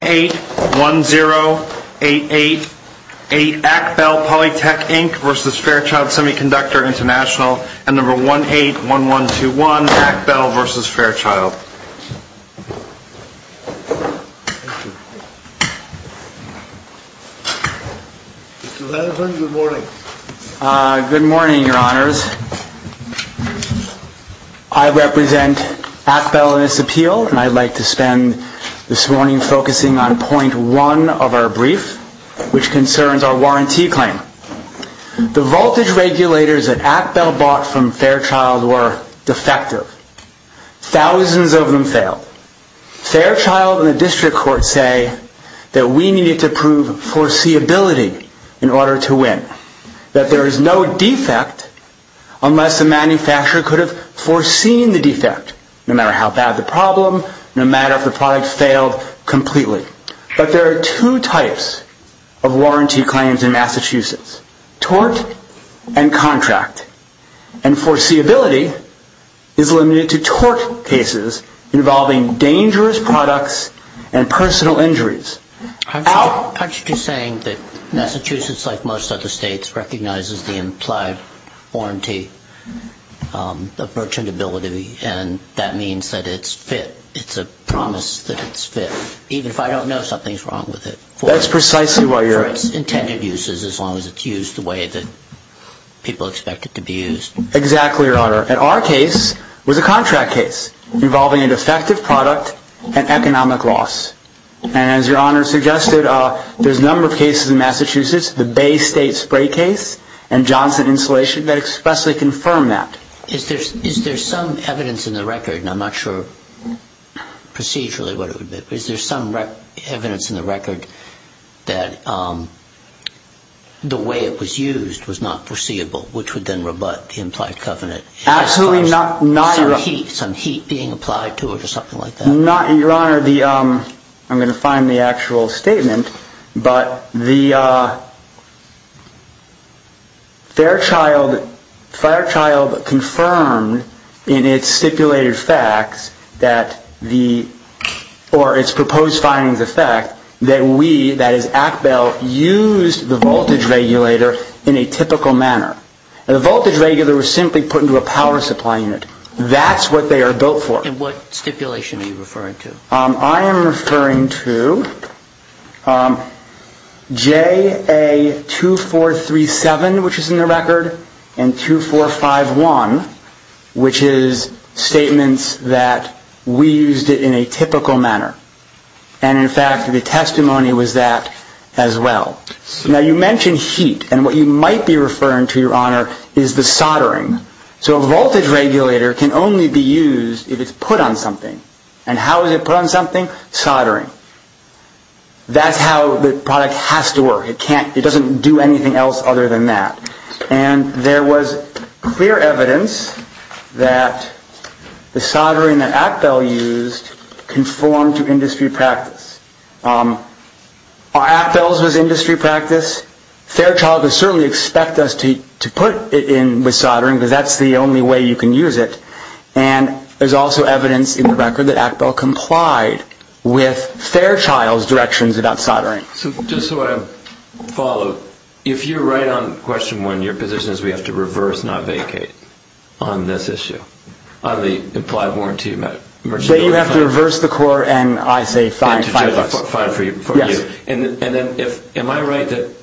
and No. 181121, ACBel v. Fairchild. Good morning, Your Honors. I represent ACBel in this appeal, and I'd like to spend this morning focusing on point one of our brief, which concerns our warranty claim. The voltage regulators that ACBel bought from Fairchild were defective. Thousands of them failed. Fairchild and the district court say that we needed to prove foreseeability in order to win, that there is no defect unless the manufacturer could have foreseen the defect, no matter how bad the problem, no matter if the product failed completely. But there are two types of warranty claims in Massachusetts, tort and contract. And foreseeability is limited to tort cases involving dangerous products and personal injuries. Aren't you just saying that Massachusetts, like most other states, recognizes the implied warranty of merchantability, and that means that it's fit? It's a promise that it's fit, even if I don't know something's wrong with it for its intended uses, as long as it's used the way that people expect it to be used? Exactly, Your Honor. And our case was a contract case involving a defective product and economic loss. And as Your Honor suggested, there's a number of cases in Massachusetts, the Bay and the Hudson installation, that expressly confirm that. Is there some evidence in the record, and I'm not sure procedurally what it would be, is there some evidence in the record that the way it was used was not foreseeable, which would then rebut the implied covenant? Absolutely not, Your Honor. Some heat being applied to it or something like that? No, Your Honor. I'm going to find the actual statement, but Fairchild confirmed in its stipulated facts that the, or its proposed findings of fact, that we, that is, Act Bell, used the voltage regulator in a typical manner. And the voltage regulator was simply put into a power supply unit. That's what they are built for. And what stipulation are you referring to? I am referring to JA2437, which is in the record, and 2451, which is statements that we used it in a typical manner. And in fact, the testimony was that as well. Now, you mentioned heat, and what you might be referring to, Your Honor, is the soldering. So a voltage regulator can only be used if it's put on something. And how is it put on something? Soldering. That's how the product has to work. It can't, it doesn't do anything else other than that. And there was clear evidence that the soldering that Act Bell used conformed to industry practice. Are Act Bells was industry practice? Fairchild would certainly expect us to put it in with soldering, because that's the only way you can use it. And there's also evidence in the record that Act Bell complied with Fairchild's directions about soldering. So just so I follow, if you're right on question one, your position is we have to reverse not vacate on this issue, on the implied warranty amount? That you have to reverse the core and I say fine, five bucks. Five for you. And then am I right that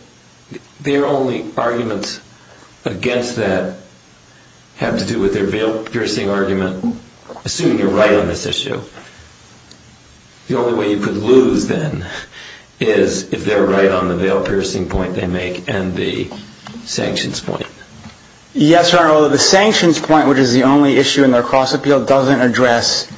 their only arguments against that have to do with their veil piercing argument? Assuming you're right on this issue, the only way you could lose then is if they're right on the veil piercing point they make and the sanctions point. Yes, Your Honor, although the sanctions point, which is the only issue in their cross appeal, doesn't address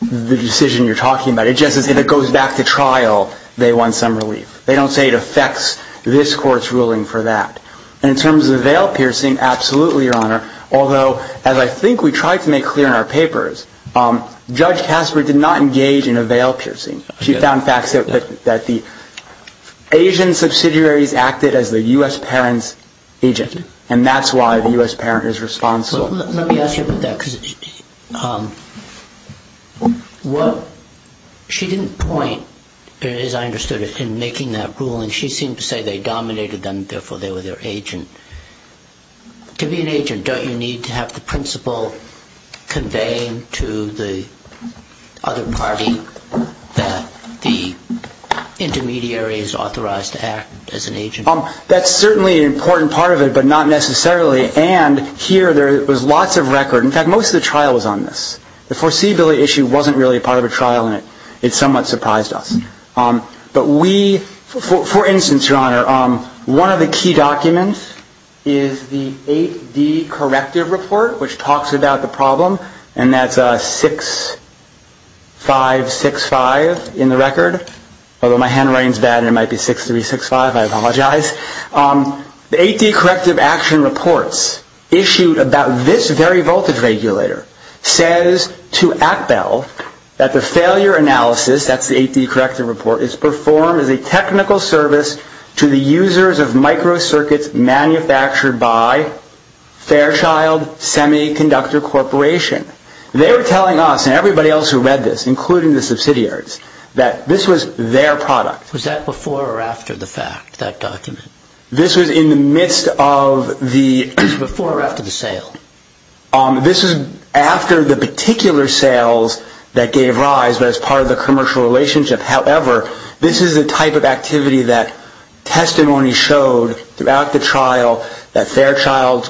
the decision you're talking about. It just says if it goes back to trial, they want some relief. They don't say it affects this court's ruling for that. In terms of the veil piercing, absolutely, Your Honor. Although, as I think we tried to make clear in our papers, Judge Casper did not engage in a veil piercing. She found facts that the Asian subsidiaries acted as the U.S. parent's agent. And that's why the U.S. parent is responsible. Let me ask you about that. She didn't point, as I understood it, in making that ruling. She seemed to say they dominated them, therefore they were their agent. To be an agent, don't you need to have the principle conveyed to the other party that the intermediary is authorized to act as an agent? That's certainly an important part of it, but not necessarily. And here, there's lots of record. In fact, most of the trial was on this. The foreseeability issue wasn't really part of a trial, and it somewhat surprised us. But we, for instance, Your Honor, one of the key documents is the 8D corrective report, which talks about the problem. And that's 6-5-6-5 in the record. Although my handwriting is bad and it might be 6-3-6-5, I apologize. The 8D corrective action reports issued about this very voltage regulator says to ActBell that the failure analysis, that's the 8D corrective report, is performed as a technical service to the users of microcircuits manufactured by Fairchild Semiconductor Corporation. They were telling us and everybody else who read this, including the subsidiaries, that this was their product. Was that before or after the fact, that document? This was in the midst of the... Before or after the sale? This was after the particular sales that gave rise as part of the commercial relationship. However, this is a type of activity that testimony showed throughout the trial that Fairchild's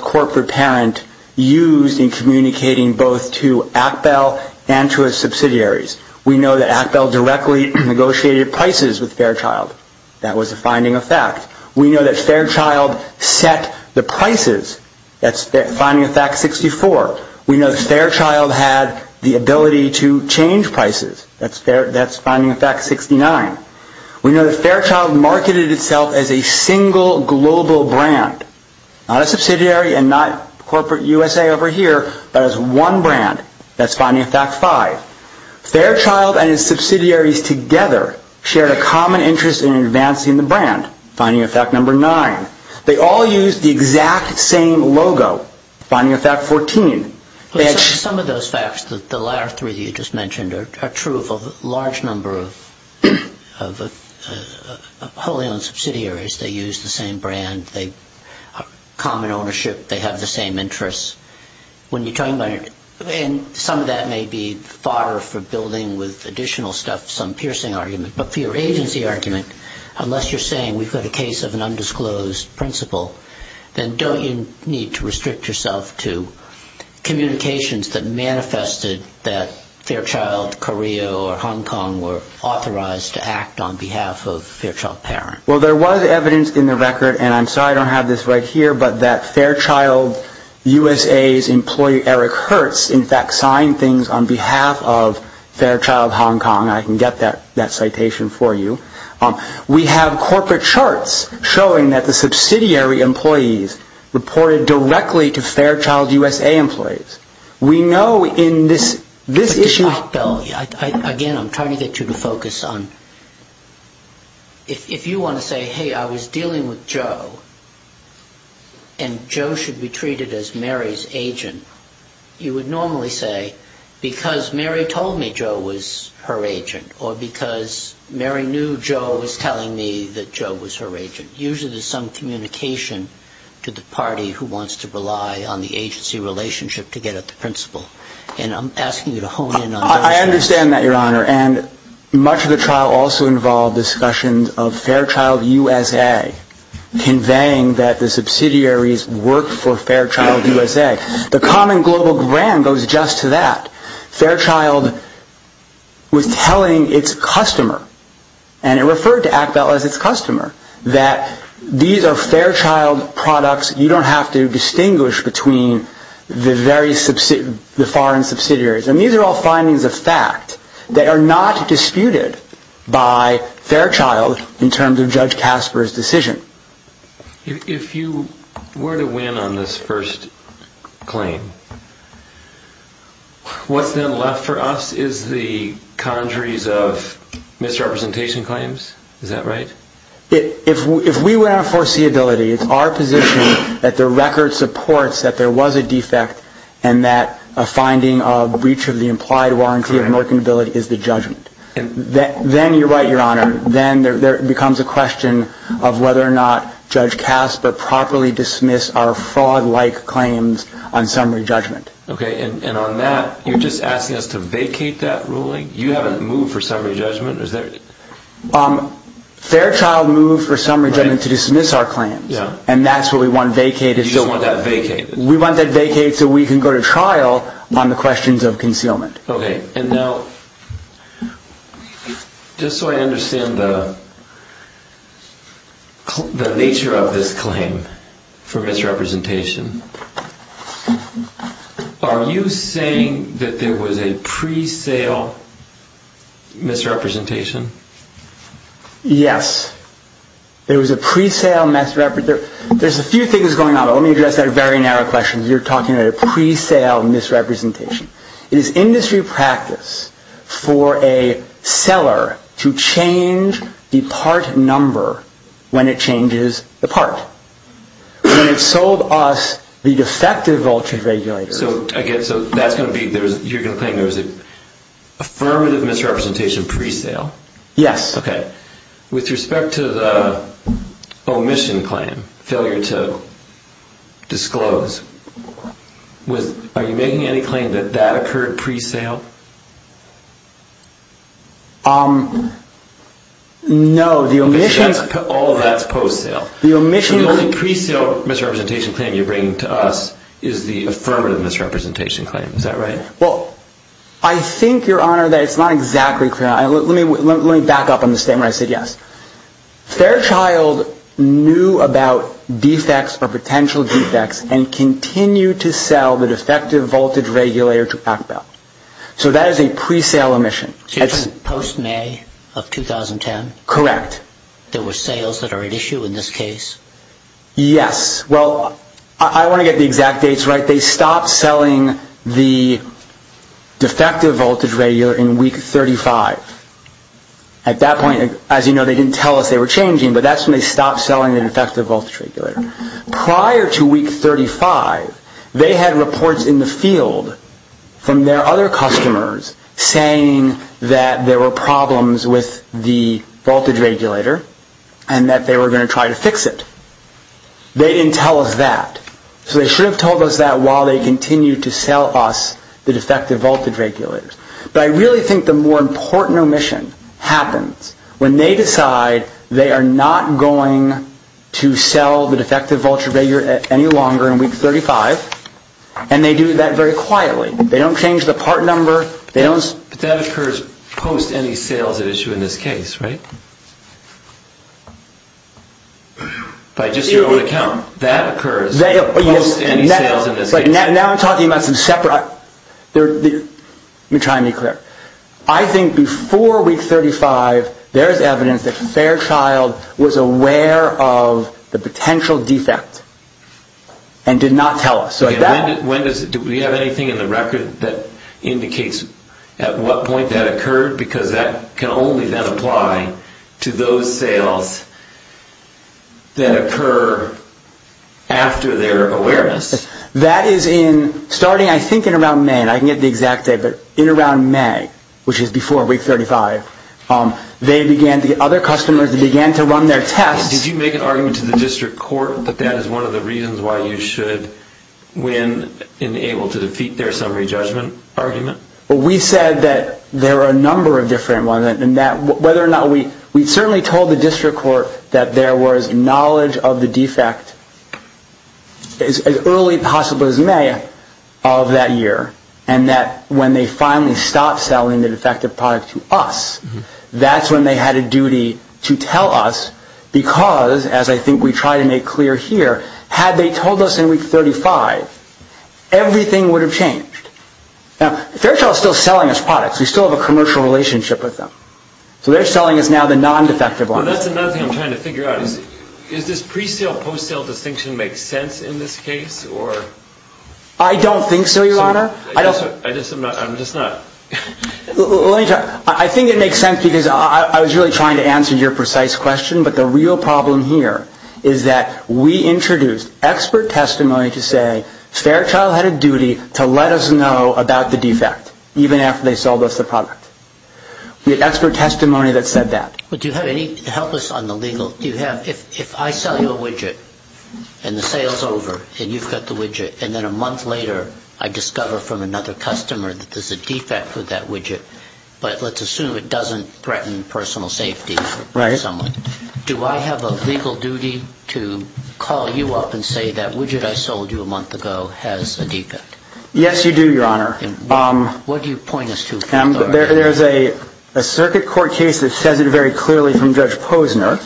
subsidiaries. We know that ActBell directly negotiated prices with Fairchild. That was a finding of fact. We know that Fairchild set the prices. That's finding of fact 64. We know that Fairchild had the ability to change prices. That's finding of fact 69. We know that Fairchild marketed itself as a single global brand, not a subsidiary and not corporate USA over here, but as one brand. That's finding of fact 5. Fairchild and its subsidiaries together shared a common interest in advancing the brand, finding of fact number 9. They all used the exact same logo, finding of fact 14. Some of those facts, the latter three that you just mentioned, are true of a large number of wholly owned subsidiaries. They use the same brand. They have common ownership. They have the same interests. Some of that may be fodder for building with additional stuff some piercing argument, but for your agency argument, unless you're saying we've got a case of an undisclosed principal, then don't you need to restrict yourself to communications that manifested that Fairchild, Carrillo, or Hong Kong were authorized to act on behalf of Fairchild Parent? Well, there was evidence in the record, and I'm sorry I don't have this right here, but that Fairchild USA's employee Eric Hertz, in fact, signed things on behalf of Fairchild Hong Kong. I can get that citation for you. We have corporate charts showing that the we know in this issue Again, I'm trying to get you to focus on, if you want to say, hey, I was dealing with Joe, and Joe should be treated as Mary's agent, you would normally say, because Mary told me Joe was her agent, or because Mary knew Joe was telling me that Joe was her agent. Usually there's some communication to the party who wants to rely on the agency relationship to get at the principal, and I'm asking you to hone in on those issues. I understand that, Your Honor, and much of the trial also involved discussions of Fairchild USA conveying that the subsidiaries worked for Fairchild USA. The common global brand goes just to that. Fairchild was telling its customer, and it referred to Actel as its foreign subsidiaries. These are all findings of fact that are not disputed by Fairchild in terms of Judge Casper's decision. If you were to win on this first claim, what's then left for us is the conjuries of misrepresentation claims, is that right? If we were in our foreseeability, it's our position that the record supports that there is a misrepresentation claim, and that a finding of breach of the implied warranty of mercantility is the judgment. Then you're right, Your Honor. Then there becomes a question of whether or not Judge Casper properly dismissed our fraud-like claims on summary judgment. Okay, and on that, you're just asking us to vacate that ruling? You haven't moved for summary judgment? Fairchild moved for summary judgment to dismiss our claims, and that's what we want vacated. You just want that vacated. We want that vacated so we can go to trial on the questions of concealment. Okay, and now, just so I understand the nature of this claim for misrepresentation, are you saying that there was a pre-sale misrepresentation? Yes, there was a pre-sale misrepresentation. There's a few things going on, but let me address that very narrow question. You're talking about a pre-sale misrepresentation. It is industry practice for a seller to change the part number when it changes the part. When it sold us the defective voltage regulator. So, again, so that's going to be, you're going to claim there was an affirmative misrepresentation pre-sale? Yes. Okay. With respect to the omission claim, failure to disclose, are you making any claim that that occurred pre-sale? No, the omission... All of that's post-sale. The omission... The only pre-sale misrepresentation claim you bring to us is the affirmative misrepresentation claim. Is that right? Well, I think, Your Honor, that it's not exactly clear. Let me back up on the statement I said yes. Fairchild knew about defects or potential defects and continued to sell the defective voltage regulator to Ackbell. So that is a pre-sale omission. So you're talking post-May of 2010? Correct. There were sales that are at issue in this case? Yes. Well, I want to get the exact dates right. They stopped selling the defective voltage regulator in Week 35. At that point, as you know, they didn't tell us they were changing, but that's when they stopped selling the defective voltage regulator. Prior to Week 35, they had reports in the field from their other customers saying that there were They didn't tell us that. So they should have told us that while they continued to sell us the defective voltage regulators. But I really think the more important omission happens when they decide they are not going to sell the defective voltage regulator any longer in Week 35, and they do that very quietly. They don't change the part number. But that occurs post any sales at issue in this case, right? By just your own account, that occurs post any sales in this case. Now I'm talking about some separate... Let me try and be clear. I think before Week 35, there is evidence that Fairchild was aware of the potential defect, and did not tell us. Do we have anything in the record that indicates at what point that occurred? Because that can only then apply to those sales that occur after their awareness. That is in, starting I think in around May, and I can get the exact date, but in around May, which is before Week 35, they began, the other customers began to run their tests. Did you make an argument to the district court that that is one of the reasons why you should win and able to defeat their summary judgment argument? Well, we said that there are a number of different ones, and whether or not we... We certainly told the district court that there was knowledge of the defect as early possible as May of that year, and that when they finally stopped selling the defective product to us, that's when they had a duty to tell us, because as I think we try to make clear here, had they told us in Week 35, everything would have changed. Now, Fairchild is still selling us products. We still have a commercial relationship with them. So they're selling us now the non-defective ones. Well, that's another thing I'm trying to figure out. Is this pre-sale, post-sale distinction make sense in this case? I don't think so, Your Honor. I'm just not... I think it makes sense because I was really trying to answer your precise question, but the real problem here is that we introduced expert testimony to say Fairchild had a duty to let us know about the defect, even after they sold us the product. We had expert testimony that said that. But do you have any... Help us on the legal... Do you have... If I sell you a widget, and the sale's over, and you've got the widget, and then a month later, I discover from another customer that there's a defect with that widget, but let's assume it doesn't threaten personal safety for someone. Do I have a legal duty to call you up and say that widget I sold you a month ago has a defect? Yes, you do, Your Honor. What do you point us to for that? There's a circuit court case that says it very clearly from Judge Posner.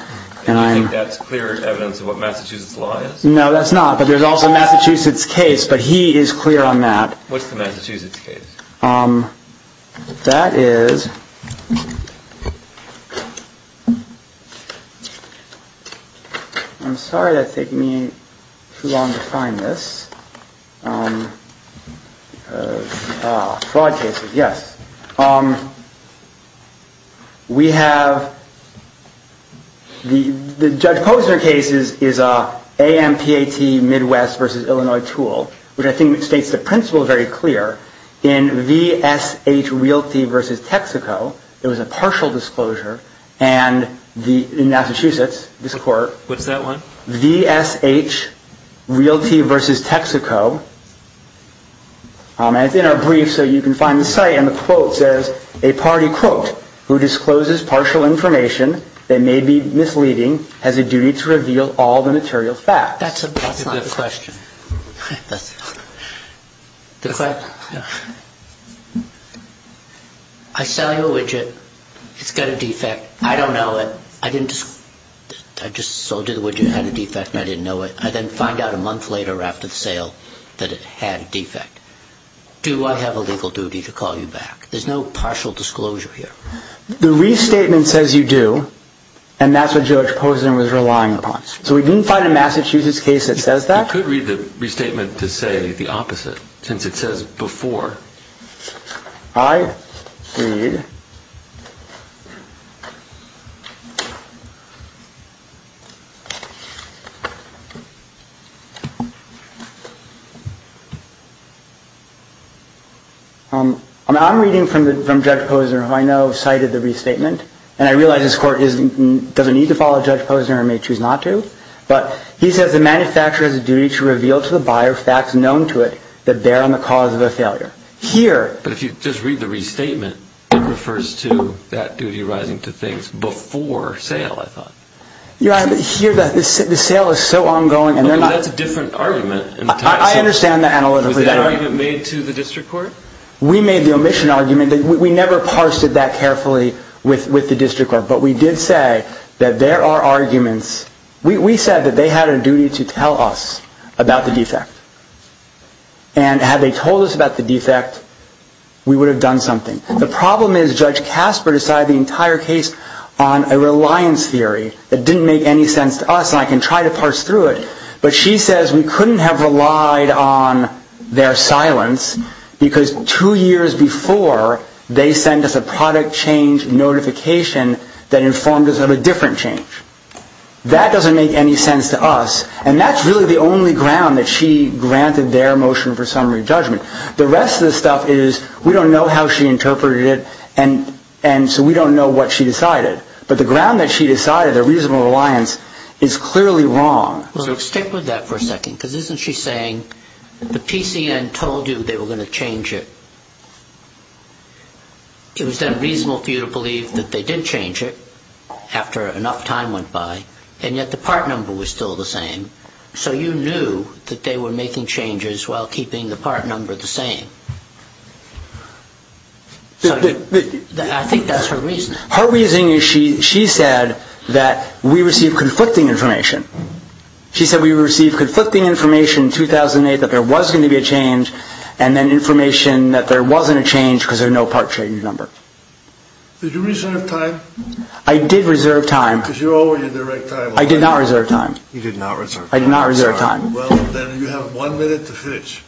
And you think that's clear evidence of what Massachusetts law is? No, that's not. But there's also Massachusetts case, but he is clear on that. What's the Massachusetts case? That is... I'm sorry that's taking me too long to find this. Fraud cases, yes. We have... The Judge Posner case is an AMPAT Midwest versus Illinois tool, which I think states the principle very clear. In VSH Realty versus Texaco, there was a partial disclosure. And in Massachusetts, this court... What's that one? VSH Realty versus Texaco. And it's in our brief, so you can find the site. And the quote says, a party, quote, who discloses partial information that may be misleading has a duty to reveal all the material facts. That's not the question. I sell you a widget. It's got a defect. I don't know it. I just sold you the widget. It had a defect, and I didn't know it. I then find out a month later after the sale that it had a defect. Do I have a legal duty to call you back? There's no partial disclosure here. The restatement says you do, and that's what Judge Posner was relying upon. So we didn't find a Massachusetts case that says that? You could read the restatement to say the opposite, since it says before. I read... I'm reading from Judge Posner, who I know cited the restatement, and I realize this court doesn't need to follow Judge Posner, or may choose not to, but he says the manufacturer has a duty to reveal to the buyer facts known to it that bear on the cause of a failure. Here... But if you just read the restatement, it refers to that duty arising to things before sale, I thought. Here, the sale is so ongoing, and they're not... But that's a different argument. I understand that analytically. Was that argument made to the district court? We made the omission argument. We never parsed it that carefully with the district court, but we did say that there are arguments... We said that they had a duty to tell us about the defect, and had they told us about the defect, we would have done something. The problem is Judge Casper decided the entire case on a reliance theory that didn't make any sense to us, and I can try to parse through it, but she says we couldn't have relied on their silence, because two years before, they sent us a product change notification that informed us of a different change. That doesn't make any sense to us, and that's really the only ground that she granted their motion for summary judgment. The rest of the stuff is, we don't know how she interpreted it, and so we don't know what she decided. But the ground that she decided, the reasonable reliance, is clearly wrong. Well, stick with that for a second, because isn't she saying, the PCN told you they were going to change it. It was then reasonable for you to believe that they did change it, after enough time went by, and yet the part number was still the same. So you knew that they were making changes while keeping the part number the same. I think that's her reason. Her reasoning is she said that we received conflicting information. She said we received conflicting information in 2008, that there was going to be a change, and then information that there wasn't a change because there's no part change number. Did you reserve time? I did reserve time. Because you owe her your direct time. I did not reserve time. You did not reserve time. I did not reserve time. Well, then you have one minute to finish.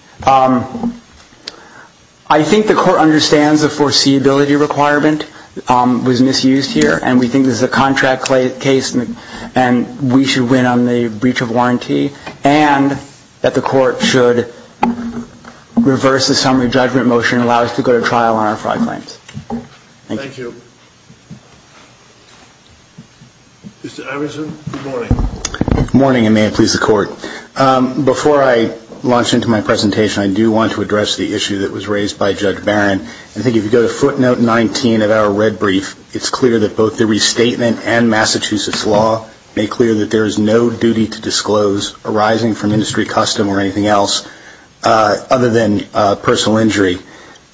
I think the court understands the foreseeability requirement was misused here, and we think this is a contract case, and we should win on the breach of warranty, and that the court should reverse the summary judgment motion and allow us to go to trial on our fraud claims. Thank you. Thank you. Mr. Anderson, good morning. Good morning, and may it please the court. Before I launch into my presentation, I do want to address the issue that was raised by Judge Barron. I think if you go to footnote 19 of our red brief, it's clear that both the restatement and Massachusetts law make clear that there is no duty to disclose arising from industry custom or anything else other than personal injury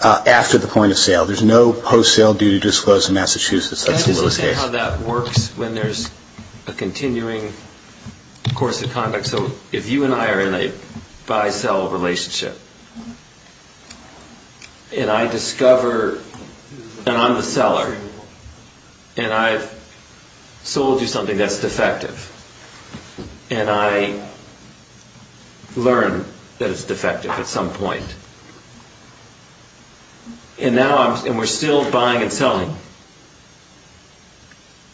after the point of sale. There's no post-sale duty to disclose in Massachusetts. Let's look at how that works when there's a continuing course of conduct. So if you and I are in a buy-sell relationship, and I discover that I'm the seller, and I've sold you something that's defective, and I learn that it's defective at some point, and we're still buying and selling,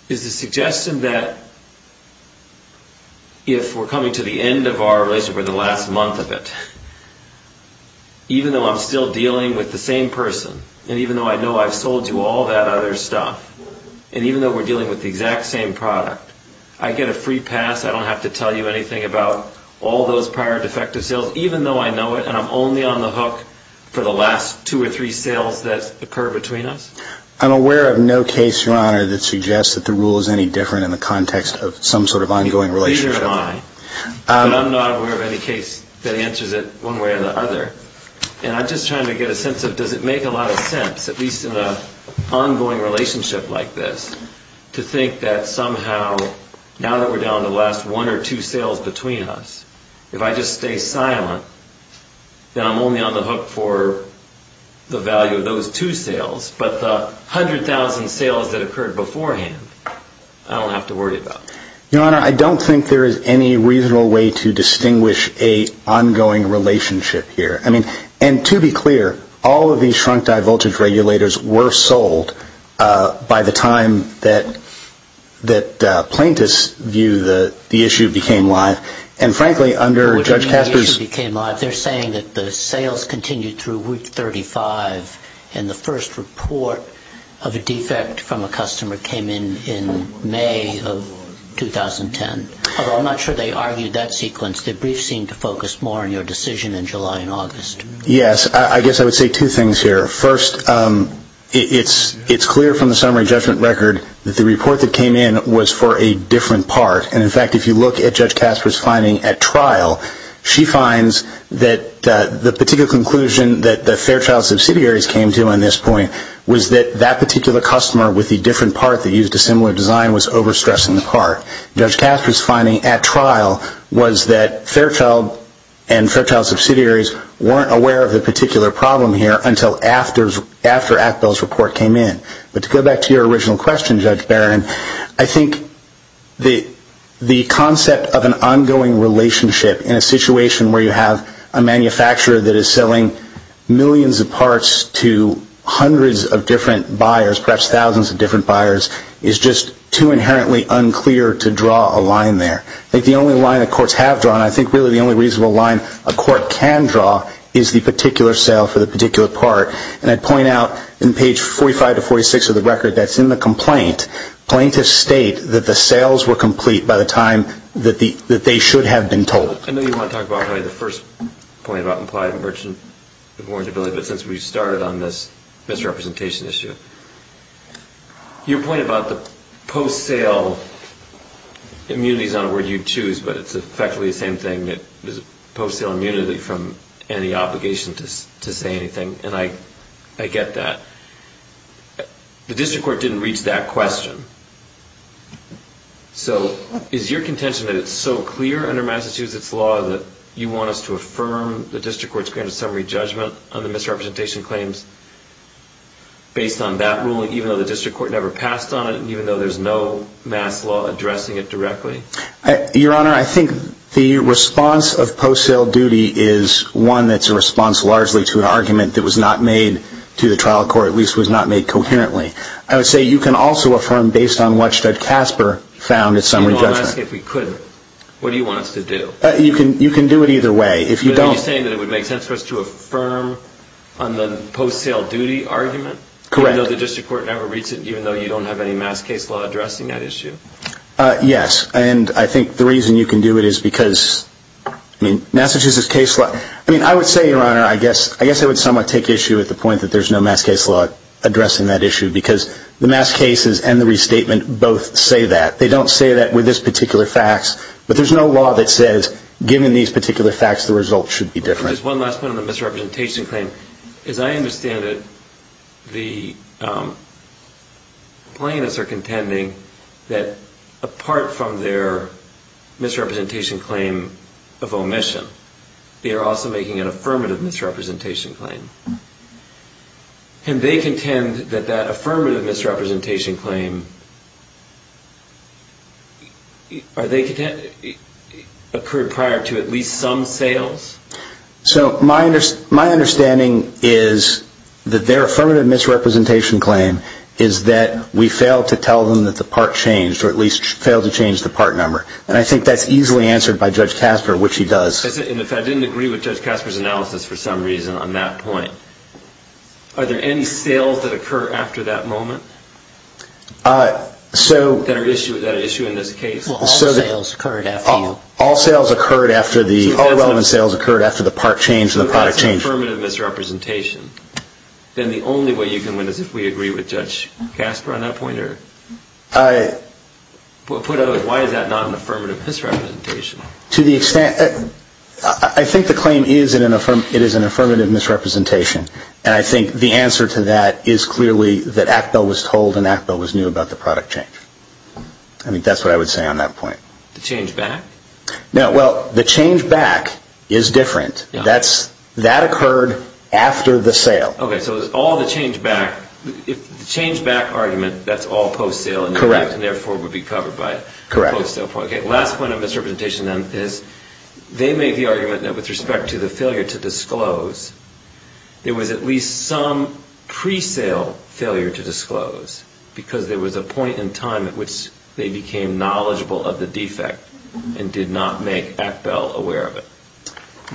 is the suggestion that if we're coming to the end of our relationship or the last month of it, even though I'm still dealing with the same person, and even though I know I've sold you all that other stuff, and even though we're dealing with the exact same product, I get a free pass, I don't have to tell you anything about all those prior defective sales, even though I know it and I'm only on the hook for the last two or three sales that occur between us? I'm aware of no case, Your Honor, that suggests that the rule is any different in the context of some sort of ongoing relationship. Neither am I. But I'm not aware of any case that answers it one way or the other. And I'm just trying to get a sense of does it make a lot of sense, at least in an ongoing relationship like this, to think that somehow, now that we're down to the last one or two sales between us, if I just stay silent, then I'm only on the hook for the value of those two sales. But the 100,000 sales that occurred beforehand, I don't have to worry about. Your Honor, I don't think there is any reasonable way to distinguish an ongoing relationship here. And to be clear, all of these shrunk-dye voltage regulators were sold by the time that plaintiffs view the issue became live. And, frankly, under Judge Casper's- They're saying that the sales continued through week 35 and the first report of a defect from a customer came in in May of 2010. Although I'm not sure they argued that sequence. The brief seemed to focus more on your decision in July and August. Yes. I guess I would say two things here. First, it's clear from the summary judgment record that the report that came in was for a different part. And, in fact, if you look at Judge Casper's finding at trial, she finds that the particular conclusion that Fairchild Subsidiaries came to on this point was that that particular customer with the different part that used a similar design was overstressing the part. Judge Casper's finding at trial was that Fairchild and Fairchild Subsidiaries weren't aware of the particular problem here until after ActBell's report came in. But to go back to your original question, Judge Barron, I think the concept of an ongoing relationship in a situation where you have a manufacturer that is selling millions of parts to hundreds of different buyers, perhaps thousands of different buyers, is just too inherently unclear to draw a line there. I think the only line that courts have drawn, I think really the only reasonable line a court can draw, is the particular sale for the particular part. And I'd point out in page 45 to 46 of the record that's in the complaint, plaintiffs state that the sales were complete by the time that they should have been told. I know you want to talk about the first point about implied merchant warrantability, but since we started on this misrepresentation issue, your point about the post-sale immunity is not a word you'd choose, but it's effectively the same thing, post-sale immunity from any obligation to say anything, and I get that. The district court didn't reach that question. So is your contention that it's so clear under Massachusetts law that you want us to affirm the district court's grand summary judgment on the misrepresentation claims based on that ruling, even though the district court never passed on it, and even though there's no mass law addressing it directly? Your Honor, I think the response of post-sale duty is one that's a response largely to an argument that was not made to the trial court, at least was not made coherently. I would say you can also affirm based on what Judge Casper found in summary judgment. You want to ask if we couldn't. What do you want us to do? You can do it either way. Are you saying that it would make sense for us to affirm on the post-sale duty argument? Correct. Even though the district court never reached it, even though you don't have any mass case law addressing that issue? Yes. And I think the reason you can do it is because Massachusetts case law... I mean, I would say, Your Honor, I guess it would somewhat take issue at the point that there's no mass case law addressing that issue because the mass cases and the restatement both say that. They don't say that with this particular facts. But there's no law that says, given these particular facts, the result should be different. Just one last point on the misrepresentation claim. Your Honor, as I understand it, the plaintiffs are contending that apart from their misrepresentation claim of omission, they are also making an affirmative misrepresentation claim. Can they contend that that affirmative misrepresentation claim occurred prior to at least some sales? So my understanding is that their affirmative misrepresentation claim is that we failed to tell them that the part changed, or at least failed to change the part number. And I think that's easily answered by Judge Casper, which he does. And if I didn't agree with Judge Casper's analysis for some reason on that point, are there any sales that occur after that moment that are issued in this case? Well, all the sales occurred after you. All relevant sales occurred after the part changed and the product changed. If that's an affirmative misrepresentation, then the only way you can win is if we agree with Judge Casper on that point? Why is that not an affirmative misrepresentation? I think the claim is that it is an affirmative misrepresentation. And I think the answer to that is clearly that Actel was told and Actel was new about the product change. I think that's what I would say on that point. The change back? No, well, the change back is different. That occurred after the sale. Okay, so it was all the change back. The change back argument, that's all post-sale, and therefore would be covered by the post-sale point. Correct. Okay, last point on misrepresentation then is they made the argument that with respect to the failure to disclose, there was at least some pre-sale failure to disclose because there was a point in time at which they became knowledgeable of the defect and did not make Actel aware of it.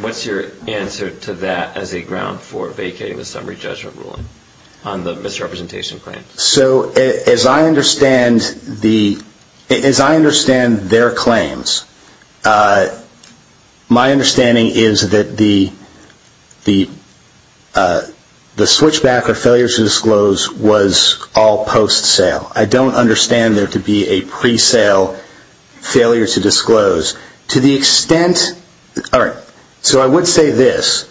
What's your answer to that as a ground for vacating the summary judgment ruling on the misrepresentation claim? So as I understand their claims, my understanding is that the switch back or failure to disclose was all post-sale. I don't understand there to be a pre-sale failure to disclose. To the extent, all right, so I would say this.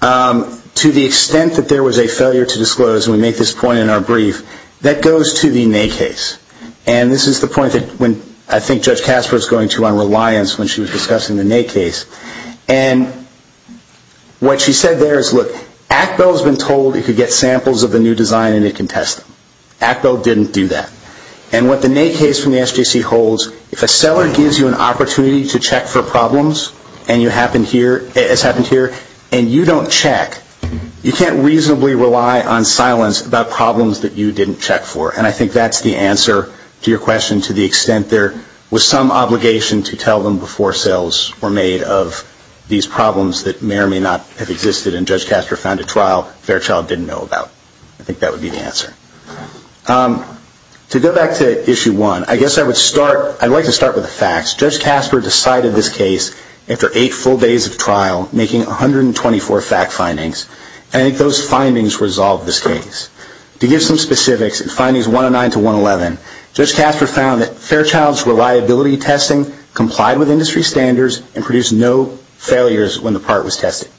To the extent that there was a failure to disclose, and we make this point in our brief, that goes to the nay case. And this is the point that I think Judge Casper is going to on reliance when she was discussing the nay case. And what she said there is, look, Actel has been told it could get samples of the new design and it can test them. Actel didn't do that. And what the nay case from the SJC holds, if a seller gives you an opportunity to check for problems, as happened here, and you don't check, you can't reasonably rely on silence about problems that you didn't check for. And I think that's the answer to your question, to the extent there was some obligation to tell them before sales were made of these problems that may or may not have existed and Judge Casper found a trial Fairchild didn't know about. I think that would be the answer. To go back to Issue 1, I guess I would start, I'd like to start with the facts. Judge Casper decided this case after eight full days of trial, making 124 fact findings. And I think those findings resolved this case. To give some specifics, in findings 109 to 111, Judge Casper found that Fairchild's reliability testing complied with industry standards and produced no failures when the part was tested.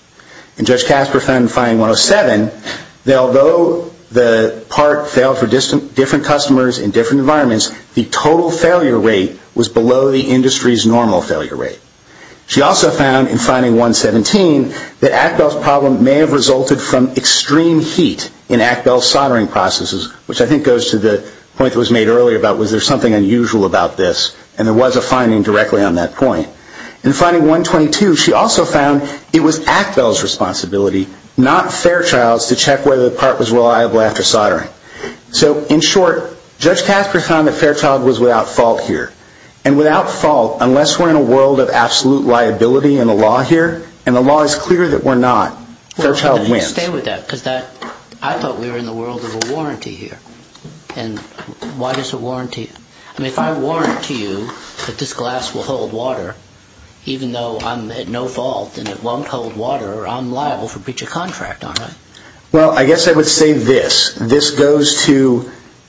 And Judge Casper found in finding 107 that although the part failed for different customers in different environments, the total failure rate was below the industry's normal failure rate. She also found in finding 117 that Actel's problem may have resulted from extreme heat in Actel's soldering processes, which I think goes to the point that was made earlier about was there something unusual about this. And there was a finding directly on that point. In finding 122, she also found it was Actel's responsibility, not Fairchild's, to check whether the part was reliable after soldering. So in short, Judge Casper found that Fairchild was without fault here. And without fault, unless we're in a world of absolute liability in the law here, and the law is clear that we're not, Fairchild wins. But stay with that, because I thought we were in the world of a warranty here. And why does a warranty... I mean, if I warrant to you that this glass will hold water, even though I'm at no fault and it won't hold water, I'm liable for breach of contract, aren't I? Well, I guess I would say this. This goes to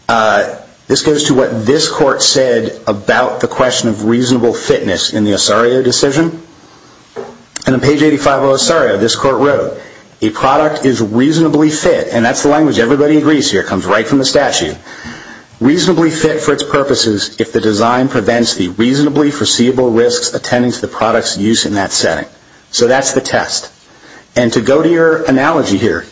what this Court said about the question of reasonable fitness in the Osario decision. And on page 85 of Osario, this Court wrote, a product is reasonably fit, and that's the language everybody agrees here. It comes right from the statute. Reasonably fit for its purposes if the design prevents the reasonably foreseeable risks attending to the product's use in that setting. So that's the test. And to go to your analogy here,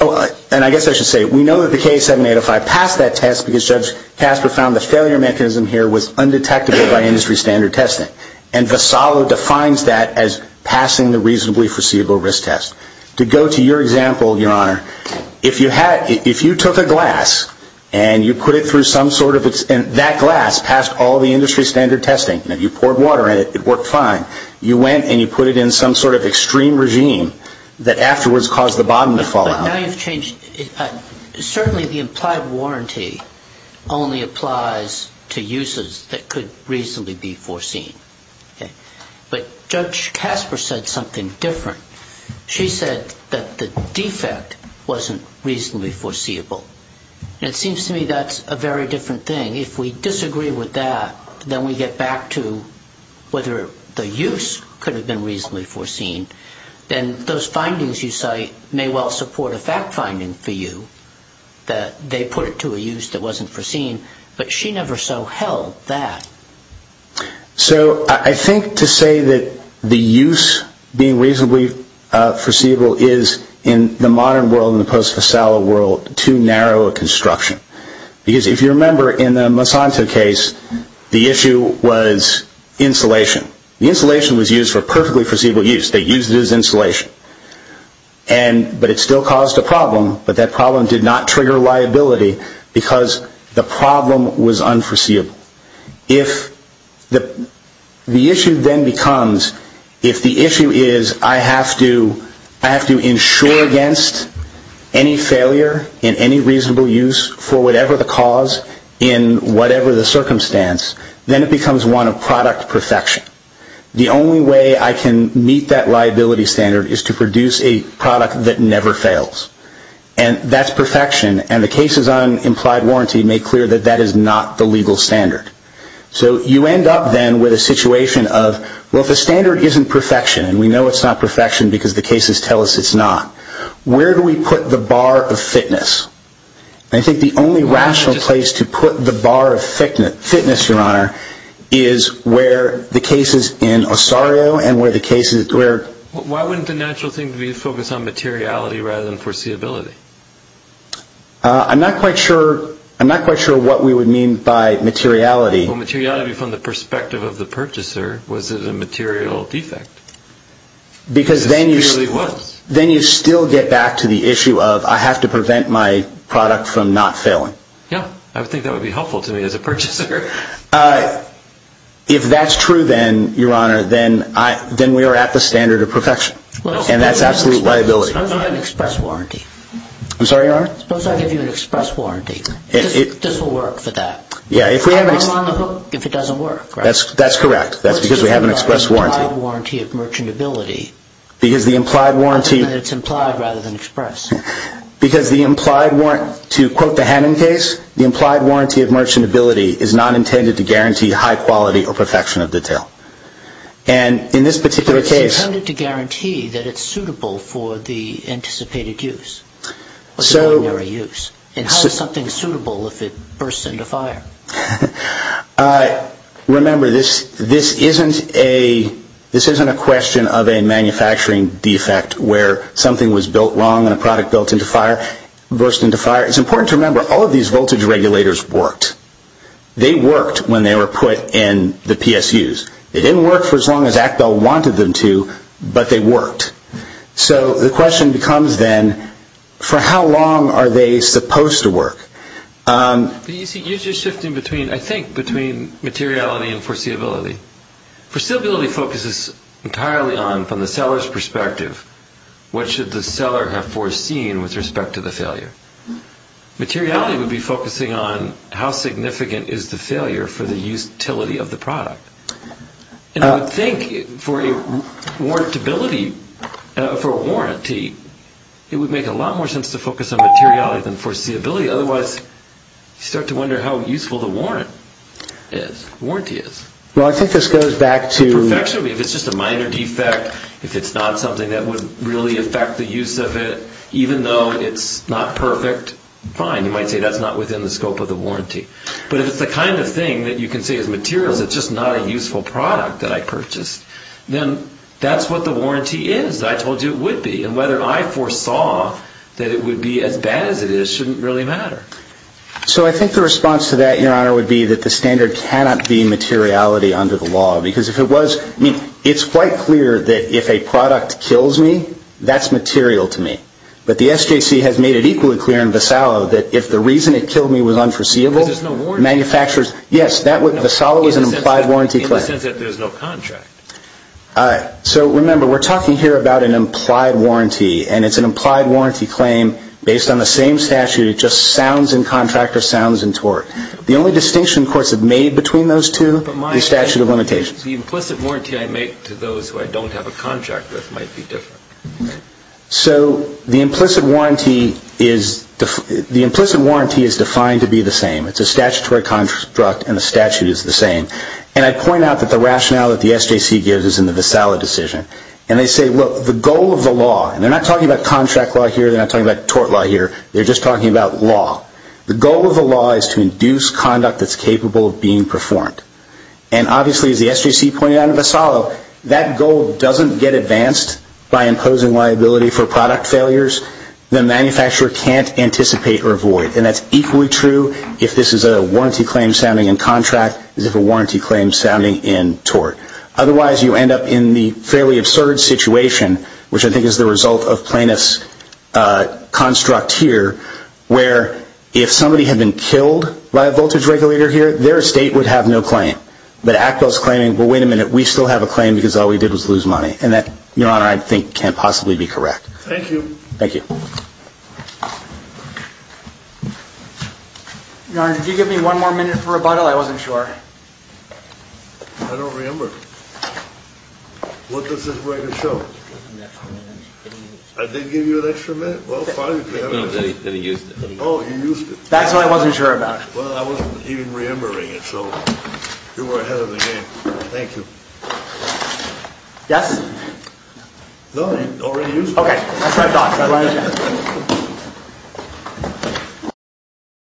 and I guess I should say, we know that the K7805 passed that test because Judge Casper found the failure mechanism here was undetectable by industry standard testing. And Vassallo defines that as passing the reasonably foreseeable risk test. To go to your example, Your Honor, if you took a glass and you put it through some sort of... That glass passed all the industry standard testing. You poured water in it, it worked fine. You went and you put it in some sort of extreme regime that afterwards caused the bottom to fall out. But now you've changed... Certainly the implied warranty only applies to uses that could reasonably be foreseen. But Judge Casper said something different. She said that the defect wasn't reasonably foreseeable. And it seems to me that's a very different thing. If we disagree with that, then we get back to whether the use could have been reasonably foreseen. Then those findings you cite may well support a fact finding for you that they put it to a use that wasn't foreseen. But she never so held that. So I think to say that the use being reasonably foreseeable is, in the modern world and the post-Vassallo world, too narrow a construction. Because if you remember in the Masanto case, the issue was insulation. The insulation was used for perfectly foreseeable use. They used it as insulation. But it still caused a problem, but that problem did not trigger liability because the problem was unforeseeable. If the issue then becomes, if the issue is I have to insure against any failure in any reasonable use for whatever the cause in whatever the circumstance, then it becomes one of product perfection. The only way I can meet that liability standard is to produce a product that never fails. And that's perfection. And the cases on implied warranty make clear that that is not the legal standard. So you end up then with a situation of, well, if the standard isn't perfection, and we know it's not perfection because the cases tell us it's not, where do we put the bar of fitness? I think the only rational place to put the bar of fitness, Your Honor, is where the cases in Osario and where the cases where... Why wouldn't the natural thing be to focus on materiality rather than foreseeability? I'm not quite sure what we would mean by materiality. Well, materiality from the perspective of the purchaser was a material defect. Because then you still get back to the issue of I have to prevent my product from not failing. Yeah, I would think that would be helpful to me as a purchaser. If that's true then, Your Honor, then we are at the standard of perfection. And that's absolute liability. Suppose we have an express warranty. I'm sorry, Your Honor? Suppose I give you an express warranty. This will work for that. I'm on the hook if it doesn't work, right? That's correct. That's because we have an express warranty. What do you mean by implied warranty of merchantability? Because the implied warranty... It's implied rather than express. Because the implied... To quote the Hannon case, the implied warranty of merchantability is not intended to guarantee high quality or perfection of detail. And in this particular case... It's intended to guarantee that it's suitable for the anticipated use. Or the preliminary use. And how is something suitable if it bursts into fire? Remember, this isn't a question of a manufacturing defect where something was built wrong and a product burst into fire. It's important to remember all of these voltage regulators worked. They worked when they were put in the PSUs. They didn't work for as long as Actel wanted them to, but they worked. So the question becomes then, for how long are they supposed to work? You see, you're just shifting between, I think, between materiality and foreseeability. Foreseeability focuses entirely on, from the seller's perspective, what should the seller have foreseen with respect to the failure. Materiality would be focusing on how significant is the failure for the utility of the product. And I would think for a warranty, it would make a lot more sense to focus on materiality than foreseeability, otherwise you start to wonder how useful the warranty is. Well, I think this goes back to... Perfection, if it's just a minor defect, if it's not something that would really affect the use of it, even though it's not perfect, fine. You might say that's not within the scope of the warranty. But if it's the kind of thing that you can say is material, it's just not a useful product that I purchased, then that's what the warranty is that I told you it would be. And whether I foresaw that it would be as bad as it is shouldn't really matter. So I think the response to that, Your Honor, would be that the standard cannot be materiality under the law. Because if it was... I mean, it's quite clear that if a product kills me, that's material to me. But the SJC has made it equally clear in Vassallo that if the reason it killed me was unforeseeable... Because there's no warranty. Manufacturers... Yes, Vassallo is an implied warranty claim. In the sense that there's no contract. So remember, we're talking here about an implied warranty, and it's an implied warranty claim based on the same statute. It just sounds in contract or sounds in tort. The only distinction courts have made between those two, the statute of limitations. The implicit warranty I make to those who I don't have a contract with might be different. So the implicit warranty is defined to be the same. It's a statutory construct, and the statute is the same. And I point out that the rationale that the SJC gives is in the Vassallo decision. And they say, look, the goal of the law... And they're not talking about contract law here. They're not talking about tort law here. They're just talking about law. The goal of the law is to induce conduct that's capable of being performed. And obviously, as the SJC pointed out in Vassallo, that goal doesn't get advanced by imposing liability for product failures that a manufacturer can't anticipate or avoid. And that's equally true if this is a warranty claim sounding in contract as if a warranty claim sounding in tort. Otherwise, you end up in the fairly absurd situation, which I think is the result of plaintiff's construct here, where if somebody had been killed by a voltage regulator here, their estate would have no claim. But Actel's claiming, well, wait a minute. We still have a claim because all we did was lose money. And that, Your Honor, I think can't possibly be correct. Thank you. Thank you. Thank you. Your Honor, could you give me one more minute for rebuttal? I wasn't sure. I don't remember. What does this record show? I did give you an extra minute. Well, fine. Oh, you used it. That's what I wasn't sure about. Well, I wasn't even remembering it. So you were ahead of the game. Thank you. Yes? No, you already used it. Okay. That's my thought. Thank you.